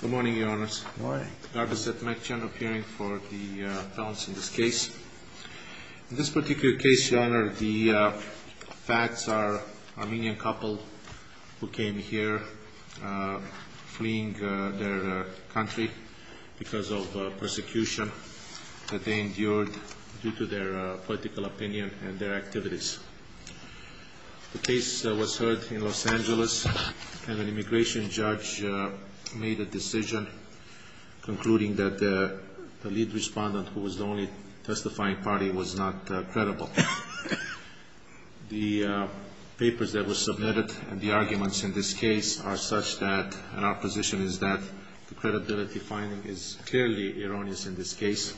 Good morning, Your Honors. Good morning. I'd like to make a general hearing for the balance in this case. In this particular case, Your Honor, the facts are an Armenian couple who came here fleeing their country because of persecution that they endured due to their political opinion and their activities. The case was heard in Los Angeles, and an immigration judge made a decision, concluding that the lead respondent, who was the only testifying party, was not credible. The papers that were submitted and the arguments in this case are such that, and our position is that the credibility finding is clearly erroneous in this case,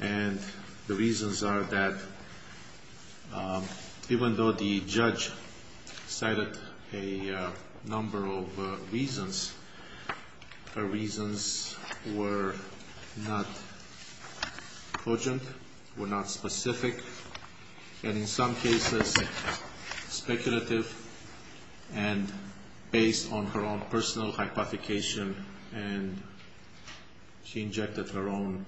and the reasons are that even though the judge cited a number of reasons, her reasons were not cogent, were not specific, and in some cases speculative, and based on her own personal hypothecation, and she injected her own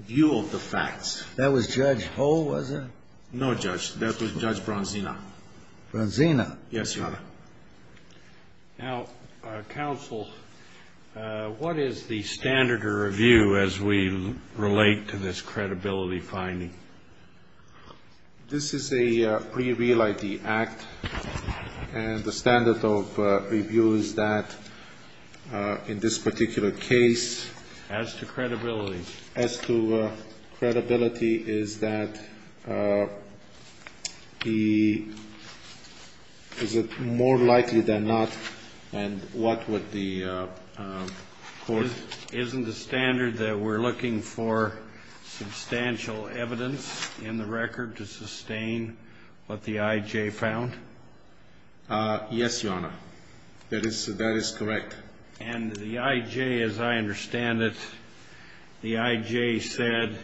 view of the facts. That was Judge Hull, was it? No, Judge. That was Judge Bronzina. Bronzina? Yes, Your Honor. Now, counsel, what is the standard of review as we relate to this credibility finding? This is a pre-real ID act, and the standard of review is that in this particular case as to credibility. As to credibility is that the, is it more likely than not, and what would the court? Isn't the standard that we're looking for substantial evidence in the record to sustain what the I.J. found? Yes, Your Honor. That is correct. And the I.J., as I understand it, the I.J. said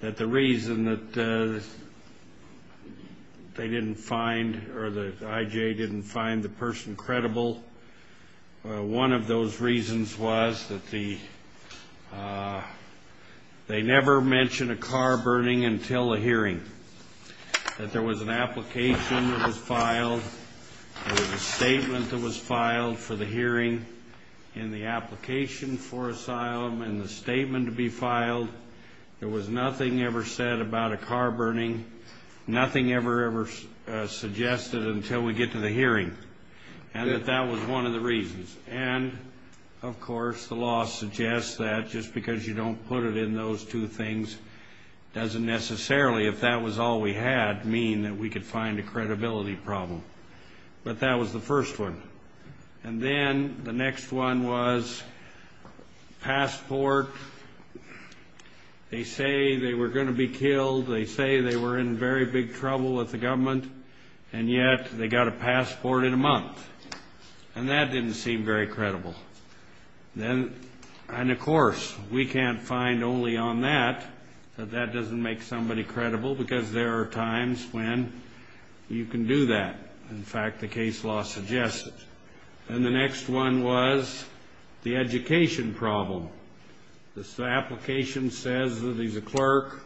that the reason that they didn't find or the I.J. didn't find the person credible, one of those reasons was that they never mentioned a car burning until a hearing, that there was an application that was filed, there was a statement that was filed for the hearing, and the application for asylum and the statement to be filed, there was nothing ever said about a car burning, nothing ever, ever suggested until we get to the hearing, and that that was one of the reasons. And, of course, the law suggests that just because you don't put it in those two things doesn't necessarily, if that was all we had, mean that we could find a credibility problem. But that was the first one. And then the next one was passport. They say they were going to be killed. They say they were in very big trouble with the government, and yet they got a passport in a month, and that didn't seem very credible. And, of course, we can't find only on that that that doesn't make somebody credible, because there are times when you can do that. In fact, the case law suggests it. And the next one was the education problem. The application says that he's a clerk.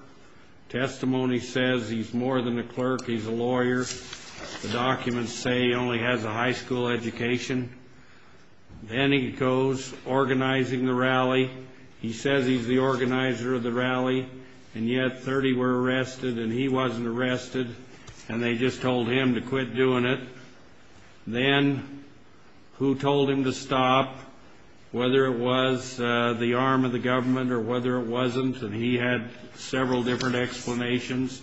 Testimony says he's more than a clerk, he's a lawyer. The documents say he only has a high school education. Then he goes organizing the rally. He says he's the organizer of the rally, and yet 30 were arrested and he wasn't arrested, and they just told him to quit doing it. Then who told him to stop, whether it was the arm of the government or whether it wasn't, and he had several different explanations.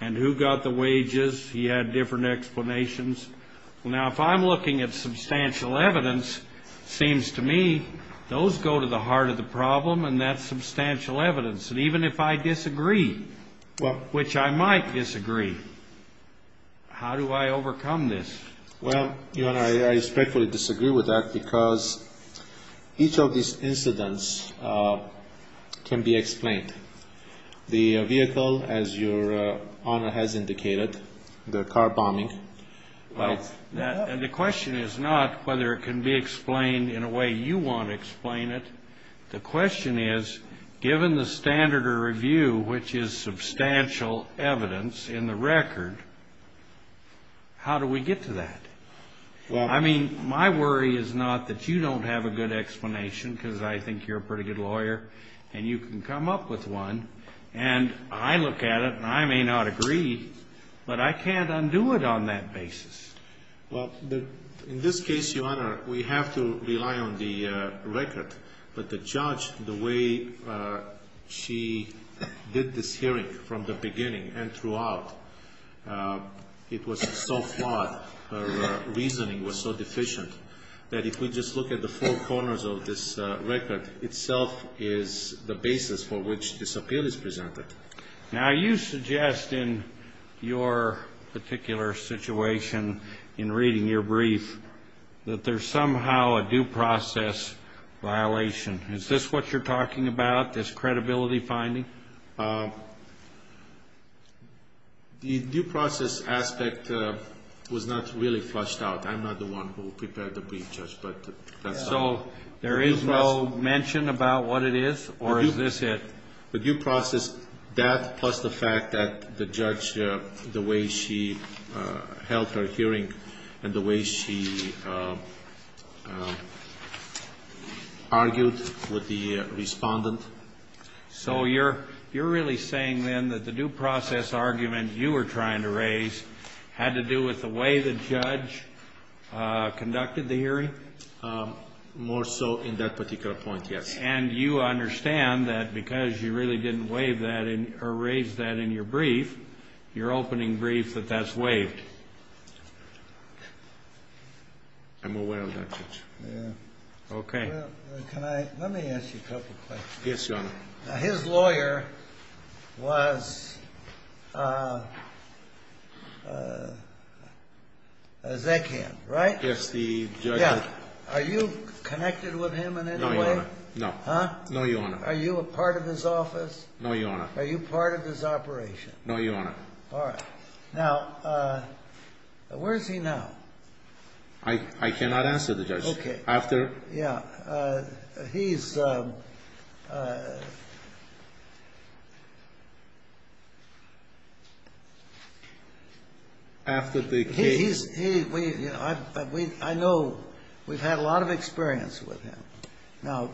And who got the wages, he had different explanations. Now, if I'm looking at substantial evidence, it seems to me those go to the heart of the problem, and that's substantial evidence. And even if I disagree, which I might disagree, how do I overcome this? Well, Your Honor, I respectfully disagree with that because each of these incidents can be explained. The vehicle, as Your Honor has indicated, the car bombing. Well, the question is not whether it can be explained in a way you want to explain it. The question is, given the standard of review, which is substantial evidence in the record, how do we get to that? I mean, my worry is not that you don't have a good explanation because I think you're a pretty good lawyer and you can come up with one, and I look at it and I may not agree, but I can't undo it on that basis. Well, in this case, Your Honor, we have to rely on the record. But the judge, the way she did this hearing from the beginning and throughout, it was so flawed. Her reasoning was so deficient that if we just look at the four corners of this record, itself is the basis for which this appeal is presented. Now, you suggest in your particular situation, in reading your brief, that there's somehow a due process violation. Is this what you're talking about, this credibility finding? The due process aspect was not really flushed out. I'm not the one who prepared the brief, Judge, but that's all. So there is no mention about what it is, or is this it? The due process, that plus the fact that the judge, the way she held her hearing, and the way she argued with the respondent. So you're really saying then that the due process argument you were trying to raise had to do with the way the judge conducted the hearing? More so in that particular point, yes. And you understand that because you really didn't waive that or raise that in your brief, your opening brief, that that's waived? I'm aware of that, Judge. Okay. Let me ask you a couple questions. Yes, Your Honor. Now, his lawyer was Zeckham, right? Yes, the judge. Are you connected with him in any way? No, Your Honor. Huh? No, Your Honor. Are you a part of his office? No, Your Honor. Are you part of his operation? No, Your Honor. All right. Now, where is he now? I cannot answer that, Judge. Okay. After the case. I know we've had a lot of experience with him. Now,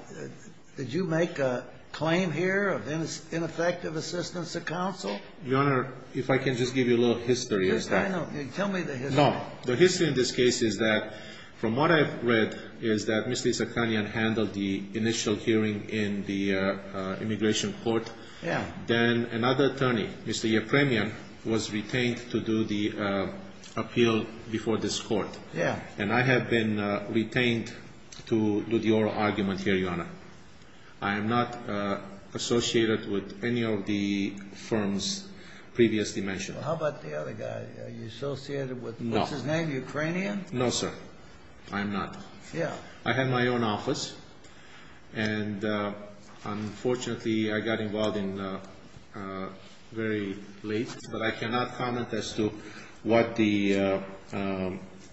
did you make a claim here of ineffective assistance of counsel? Your Honor, if I can just give you a little history as to that. Tell me the history. No. The history in this case is that from what I've read is that Mr. Zeckhamian handled the initial hearing in the immigration court. Yeah. Then another attorney, Mr. Yepremian, was retained to do the appeal before this court. Yeah. And I have been retained to do the oral argument here, Your Honor. I am not associated with any of the firms previously mentioned. How about the other guy? Are you associated with him? No. What's his name? Ukrainian? No, sir. I am not. Yeah. I had my own office. And unfortunately, I got involved in very late. But I cannot comment as to what Mr.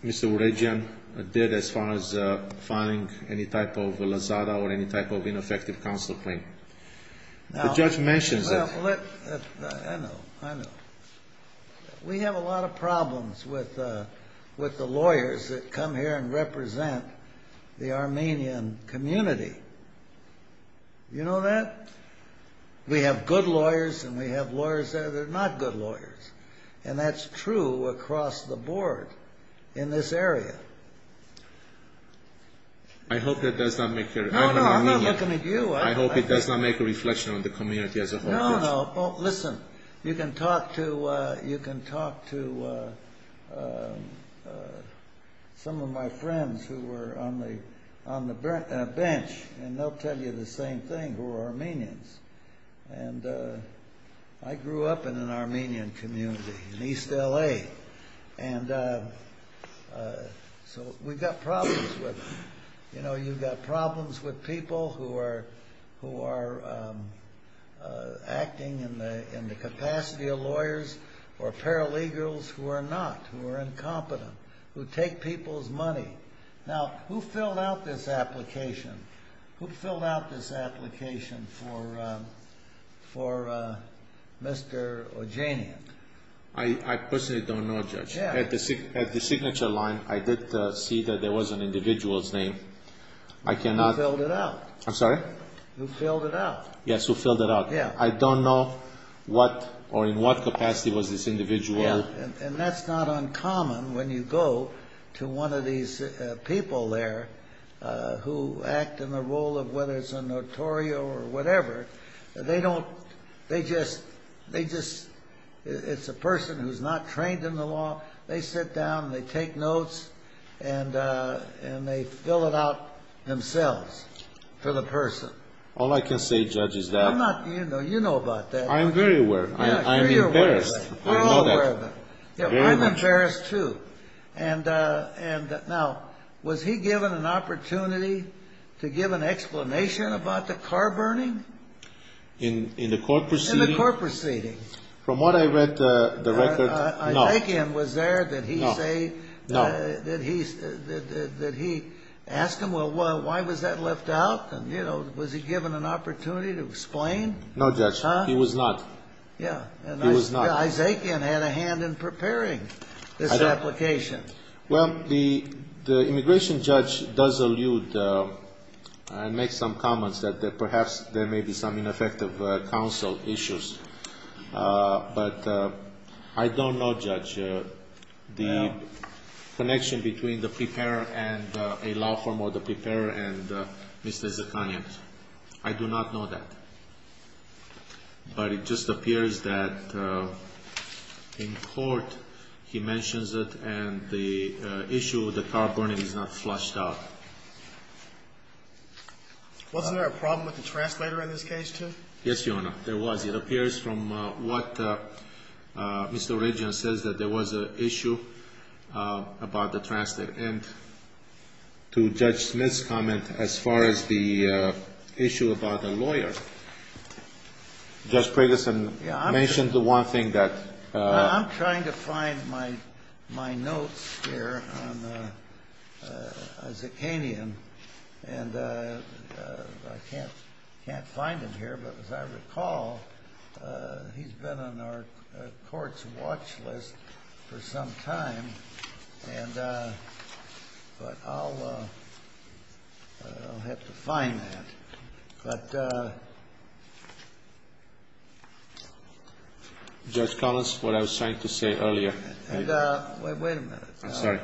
Oregian did as far as finding any type of lazada or any type of ineffective counsel claim. The judge mentions it. I know. I know. We have a lot of problems with the lawyers that come here and represent the Armenian community. You know that? We have good lawyers and we have lawyers that are not good lawyers. And that's true across the board in this area. I hope that does not make your – No, no. I'm not looking at you. I hope it does not make a reflection on the community as a whole. No, no. Well, listen, you can talk to some of my friends who were on the bench and they'll tell you the same thing who are Armenians. And I grew up in an Armenian community in East L.A. And so we've got problems with them. You know, you've got problems with people who are acting in the capacity of lawyers or paralegals who are not, who are incompetent, who take people's money. Now, who filled out this application? Who filled out this application for Mr. Oregian? I personally don't know, Judge. At the signature line, I did see that there was an individual's name. I cannot – Who filled it out. I'm sorry? Who filled it out. Yes, who filled it out. I don't know what or in what capacity was this individual – Yeah, and that's not uncommon when you go to one of these people there who act in the role of whether it's a notorio or whatever. They don't, they just, they just, it's a person who's not trained in the law. They sit down, they take notes, and they fill it out themselves for the person. All I can say, Judge, is that – I'm not, you know, you know about that. I'm very aware. I'm embarrassed. I'm all aware of it. I'm embarrassed too. And now, was he given an opportunity to give an explanation about the car burning? In the court proceeding? In the court proceeding. From what I read the record, no. Isaacian was there that he say – No, no. That he asked him, well, why was that left out? And, you know, was he given an opportunity to explain? No, Judge. He was not. Yeah. He was not. Isaacian had a hand in preparing this application. Well, the immigration judge does allude and make some comments that perhaps there may be some ineffective counsel issues. But I don't know, Judge, the connection between the preparer and a law firm or the preparer and Mr. Zakanian. I do not know that. But it just appears that in court he mentions it and the issue of the car burning is not flushed out. Wasn't there a problem with the translator in this case, too? Yes, Your Honor. There was. It appears from what Mr. Regan says that there was an issue about the translator. And to Judge Smith's comment as far as the issue about a lawyer. Judge Preggison mentioned the one thing that – I'm trying to find my notes here on Isaacian. And I can't find them here. But as I recall, he's been on our court's watch list for some time. But I'll have to find that. But – Judge Collins, what I was trying to say earlier. I'm sorry.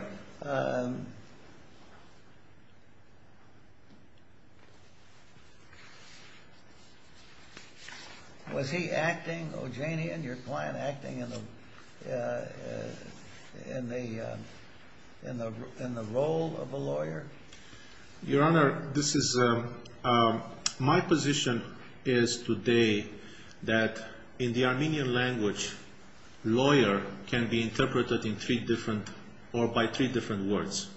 Was he acting, O'Janian, your client, acting in the role of a lawyer? Your Honor, this is – my position is today that in the Armenian language, lawyer can be interpreted in three different or by three different words.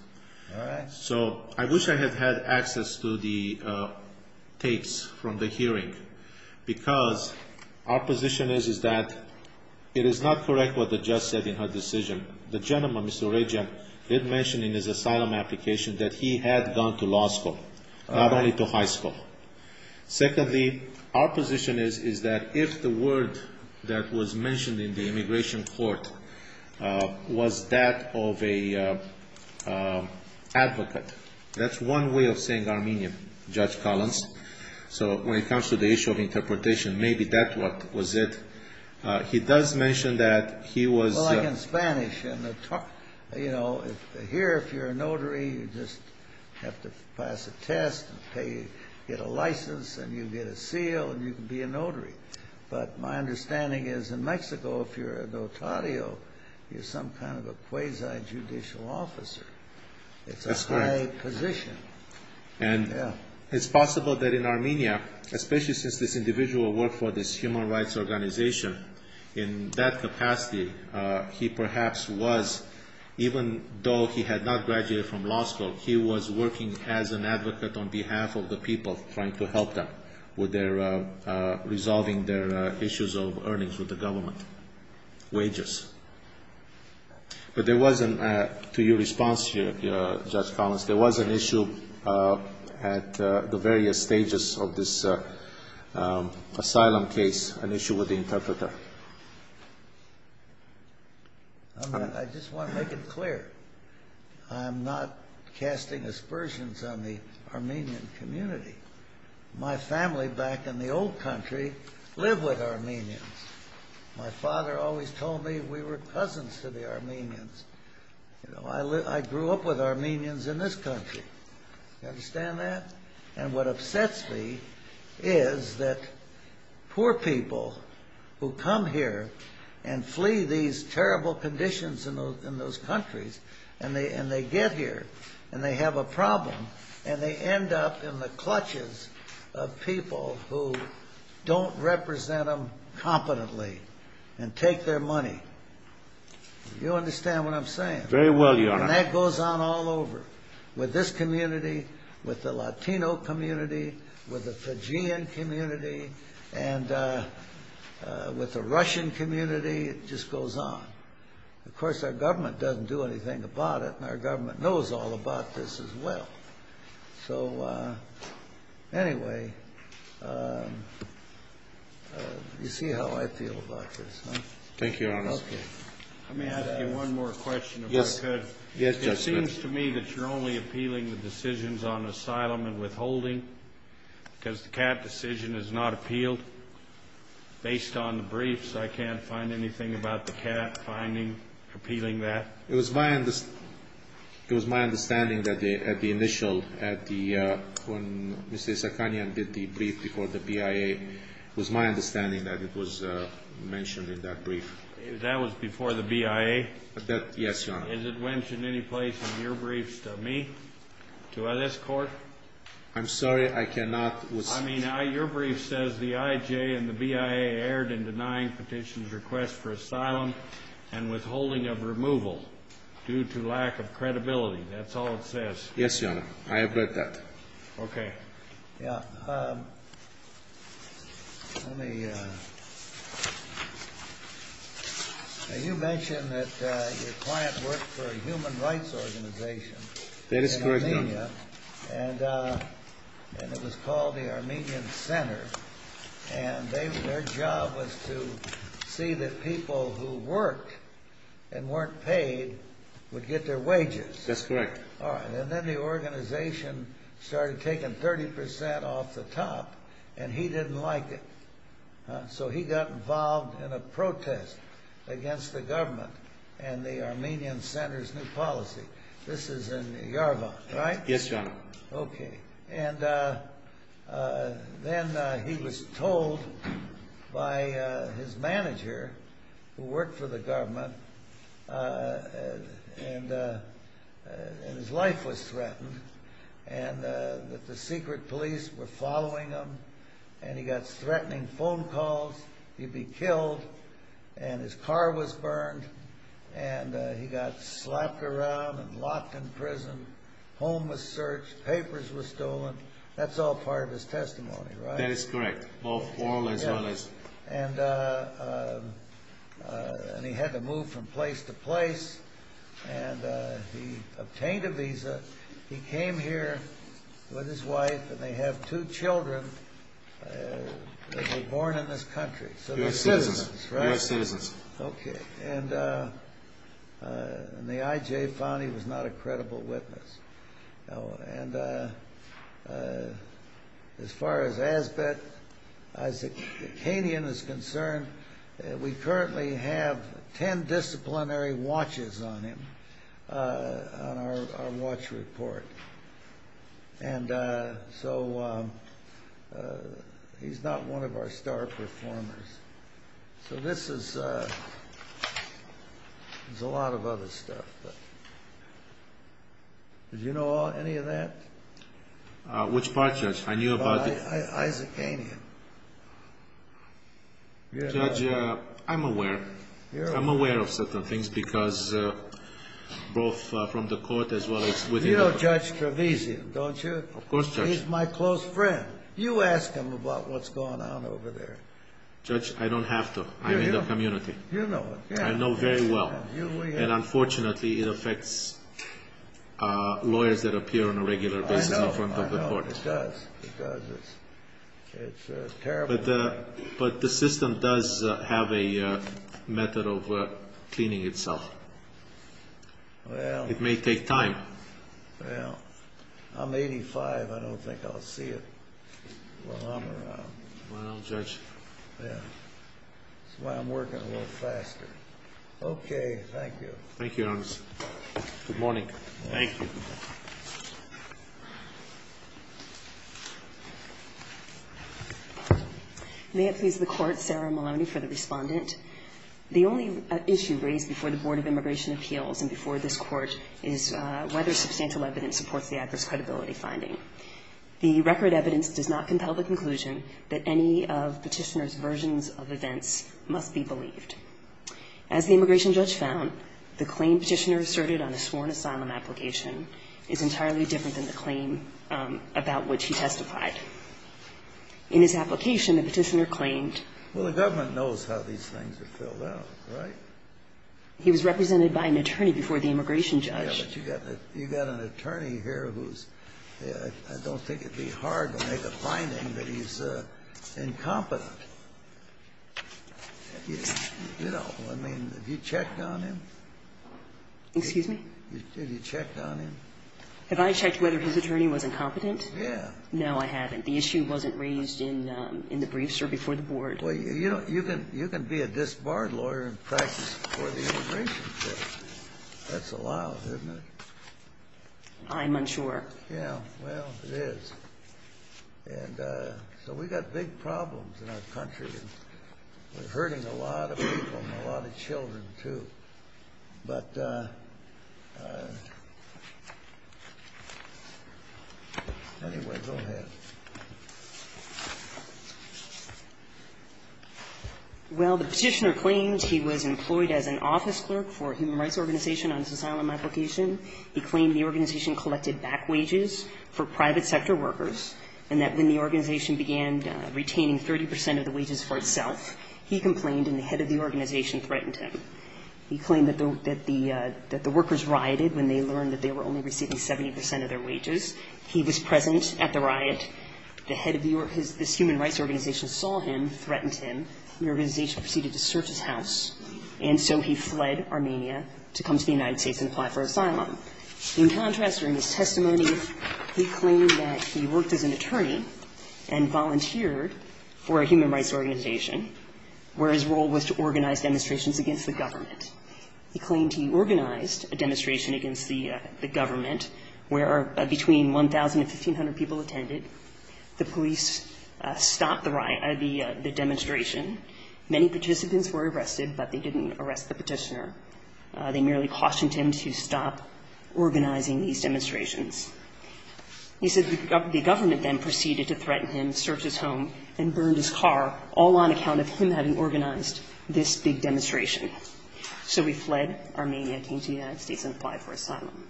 All right. So I wish I had had access to the tapes from the hearing. Because our position is that it is not correct what the judge said in her decision. The gentleman, Mr. Regan, did mention in his asylum application that he had gone to law school. Not only to high school. Secondly, our position is that if the word that was mentioned in the immigration court was that of an advocate, that's one way of saying Armenian, Judge Collins. So when it comes to the issue of interpretation, maybe that was it. He does mention that he was – Here, if you're a notary, you just have to pass a test, get a license, and you get a seal, and you can be a notary. But my understanding is in Mexico, if you're a notario, you're some kind of a quasi-judicial officer. It's a high position. And it's possible that in Armenia, especially since this individual worked for this human rights organization, in that capacity, he perhaps was, even though he had not graduated from law school, he was working as an advocate on behalf of the people trying to help them with resolving their issues of earnings with the government. Wages. But there was, to your response here, Judge Collins, there was an issue at the various stages of this asylum case, an issue with the interpreter. I just want to make it clear. I'm not casting aspersions on the Armenian community. My family back in the old country lived with Armenians. My father always told me we were cousins to the Armenians. I grew up with Armenians in this country. You understand that? And what upsets me is that poor people who come here and flee these terrible conditions in those countries and they get here and they have a problem and they end up in the clutches of people who don't represent them competently and take their money. Do you understand what I'm saying? Very well, Your Honor. And that goes on all over with this community, with the Latino community, with the Fijian community, and with the Russian community. It just goes on. Of course, our government doesn't do anything about it, and our government knows all about this as well. So anyway, you see how I feel about this, huh? Thank you, Your Honor. Okay. Let me ask you one more question, if I could. Yes, Judge. It seems to me that you're only appealing the decisions on asylum and withholding because the CAT decision is not appealed. Based on the briefs, I can't find anything about the CAT finding appealing that. It was my understanding that at the initial, when Mr. Isakhanian did the brief before the BIA, That was before the BIA? Yes, Your Honor. Is it mentioned any place in your briefs to me, to this Court? I'm sorry, I cannot. I mean, your brief says the IJ and the BIA erred in denying petitions request for asylum and withholding of removal due to lack of credibility. That's all it says. Yes, Your Honor. I have read that. Okay. Now, you mentioned that your client worked for a human rights organization in Armenia. That is correct, Your Honor. And it was called the Armenian Center. And their job was to see that people who worked and weren't paid would get their wages. That's correct. All right. And then the organization started taking 30% off the top, and he didn't like it. So he got involved in a protest against the government and the Armenian Center's new policy. This is in Yerevan, right? Yes, Your Honor. Okay. And then he was told by his manager, who worked for the government, and his life was threatened, and that the secret police were following him, and he got threatening phone calls. He'd be killed, and his car was burned, and he got slapped around and locked in prison. Home was searched. Papers were stolen. That's all part of his testimony, right? That is correct, both oral as well as... And he had to move from place to place, and he obtained a visa. He came here with his wife, and they have two children that were born in this country. U.S. citizens. U.S. citizens. Okay. And the I.J. found he was not a credible witness. And as far as Azbek Isakian is concerned, we currently have 10 disciplinary watches on him, on our watch report. And so he's not one of our star performers. So this is a lot of other stuff. Did you know any of that? Which part, Judge? I knew about the... Isakian. Judge, I'm aware. I'm aware of certain things, because both from the court as well as within the... You know Judge Trevisan, don't you? Of course, Judge. He's my close friend. You ask him about what's going on over there. Judge, I don't have to. I'm in the community. You know it. I know very well. And unfortunately, it affects lawyers that appear on a regular basis in front of the court. I know, I know. It does. It does. It's terrible. But the system does have a method of cleaning itself. It may take time. Well, I'm 85. I don't think I'll see it while I'm around. Well, Judge. Yeah. That's why I'm working a little faster. Okay. Thank you. Thank you, Your Honor. Good morning. Thank you. May it please the Court, Sarah Maloney for the respondent. The only issue raised before the Board of Immigration Appeals and before this Court is whether substantial evidence supports the adverse credibility finding. The record evidence does not compel the conclusion that any of Petitioner's versions of events must be believed. As the immigration judge found, the claim Petitioner asserted on a sworn asylum application is entirely different than the claim about which he testified. In his application, the petitioner claimed he was represented by an attorney before the immigration judge. Yeah, but you got an attorney here who's, I don't think it would be hard to make a finding that he's incompetent. You know, I mean, have you checked on him? Excuse me? Have you checked on him? Have I checked whether his attorney was incompetent? Yeah. No, I haven't. The issue wasn't raised in the brief, sir, before the Board. Well, you know, you can be a disbarred lawyer in practice before the immigration judge. That's allowed, isn't it? I'm unsure. Yeah. Well, it is. And so we've got big problems in our country. We're hurting a lot of people and a lot of children, too. But anyway, go ahead. Well, the petitioner claimed he was employed as an office clerk for a human rights organization on his asylum application. He claimed the organization collected back wages for private sector workers and that when the organization began retaining 30 percent of the wages for itself, he complained and the head of the organization threatened him. He claimed that the workers rioted when they learned that they were only receiving 70 percent of their wages. He was present at the riot. The head of this human rights organization saw him, threatened him. The organization proceeded to search his house. And so he fled Armenia to come to the United States and apply for asylum. In contrast, during his testimony, he claimed that he worked as an attorney and volunteered for a human rights organization where his role was to organize demonstrations against the government. He claimed he organized a demonstration against the government where between 1,000 and 1,500 people attended. The police stopped the demonstration. Many participants were arrested, but they didn't arrest the petitioner. They merely cautioned him to stop organizing these demonstrations. He said the government then proceeded to threaten him, search his home, and burned his car, all on account of him having organized this big demonstration. So he fled Armenia, came to the United States, and applied for asylum.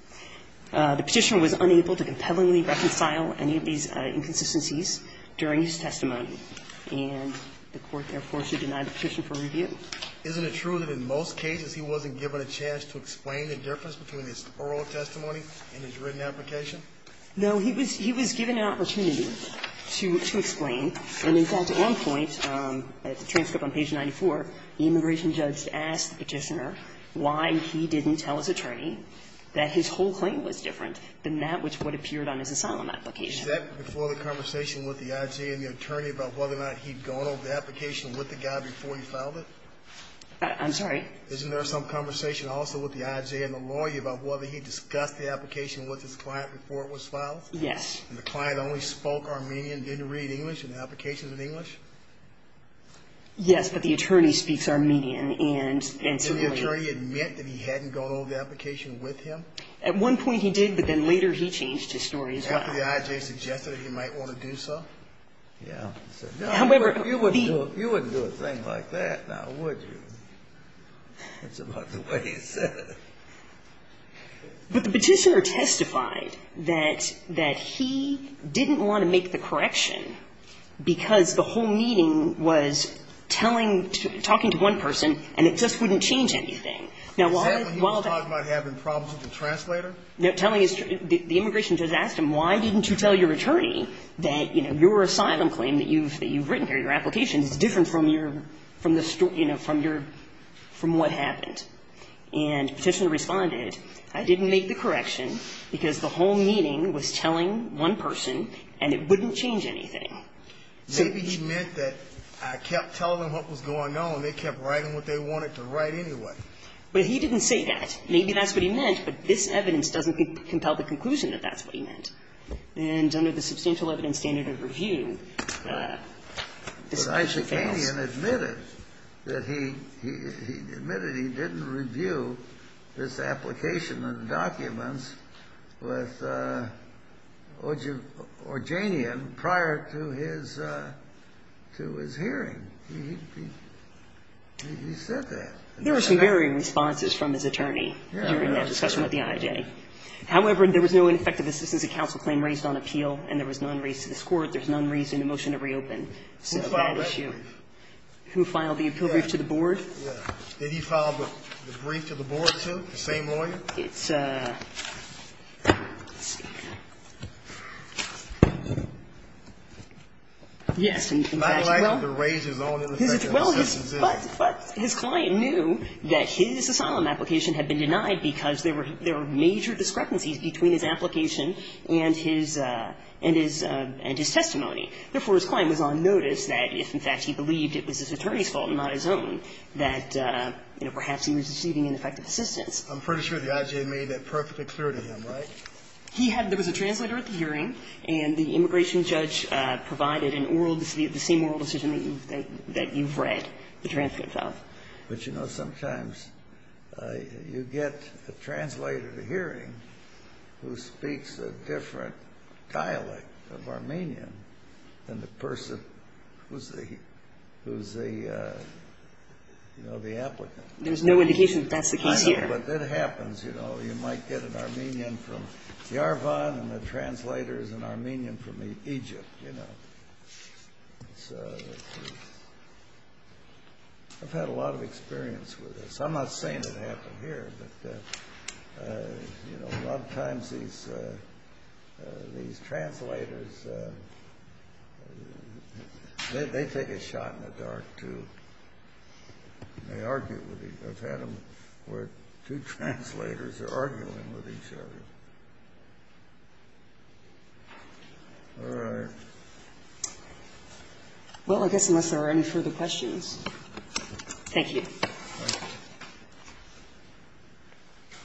The petitioner was unable to compellingly reconcile any of these inconsistencies during his testimony, and the Court therefore should deny the petition for review. Isn't it true that in most cases he wasn't given a chance to explain the difference between his oral testimony and his written application? He was given an opportunity to explain. And in fact, to end point, at the transcript on page 94, the immigration judge asked the petitioner why he didn't tell his attorney that his whole claim was different than that which would have appeared on his asylum application. Is that before the conversation with the I.G. and the attorney about whether or not he'd gone over the application with the guy before he filed it? I'm sorry? Isn't there some conversation also with the I.G. and the lawyer about whether he discussed the application with his client before it was filed? Yes. And the client only spoke Armenian, didn't read English, and the application was in English? Yes, but the attorney speaks Armenian and civilian. Didn't the attorney admit that he hadn't gone over the application with him? At one point he did, but then later he changed his story as well. After the I.G. suggested that he might want to do so? Yeah. However, the – You wouldn't do a thing like that, now, would you? That's about the way he said it. But the Petitioner testified that he didn't want to make the correction because the whole meeting was telling – talking to one person and it just wouldn't change anything. Now, while the – Is that when he was talking about having problems with the translator? Telling his – the immigration judge asked him, why didn't you tell your attorney that, you know, your asylum claim that you've – that you've written here, your application, is different from your – from the – you know, from your – from what happened? And Petitioner responded, I didn't make the correction because the whole meeting was telling one person and it wouldn't change anything. Maybe he meant that I kept telling them what was going on. They kept writing what they wanted to write anyway. But he didn't say that. Maybe that's what he meant, but this evidence doesn't compel the conclusion that that's what he meant. And under the substantial evidence standard of review, this essentially fails. The IJKian admitted that he – he admitted he didn't review this application and documents with Orjanian prior to his – to his hearing. He said that. There were some varying responses from his attorney during that discussion with the IJ. However, there was no ineffective assistance of counsel claim raised on appeal and there was none raised to this Court. There's none raised in the motion to reopen. Since that issue. Who filed that brief? Who filed the appeal brief to the board? Yeah. Did he file the brief to the board, too? The same lawyer? It's a – let's see here. Yes. In fact, well – I'd like to raise his own ineffective assistance issue. Well, his – but his client knew that his asylum application had been denied because there were – there were major discrepancies between his application and his – and his testimony. Therefore, his client was on notice that if, in fact, he believed it was his attorney's fault and not his own, that, you know, perhaps he was receiving ineffective assistance. I'm pretty sure the IJ made that perfectly clear to him, right? He had – there was a translator at the hearing and the immigration judge provided an oral – the same oral decision that you've read the transcript of. But, you know, sometimes you get a translator at a hearing who speaks a different dialect of Armenian than the person who's the – who's the, you know, the applicant. There's no indication that that's the case here. I know, but that happens, you know. You might get an Armenian from Yerevan and the translator is an Armenian from Egypt, you know. So I've had a lot of experience with this. I'm not saying it happened here, but, you know, a lot of times these translators, they take a shot in the dark, too. They argue with each other. I've had them where two translators are arguing with each other. All right. Well, I guess unless there are any further questions. Thank you. Thank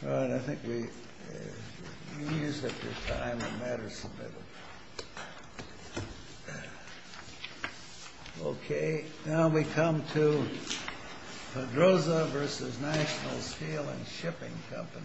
you. All right. I think we've used up your time. It matters a little. Okay. Now we come to Pedroza versus National Steel and Shipping Company. Thank you.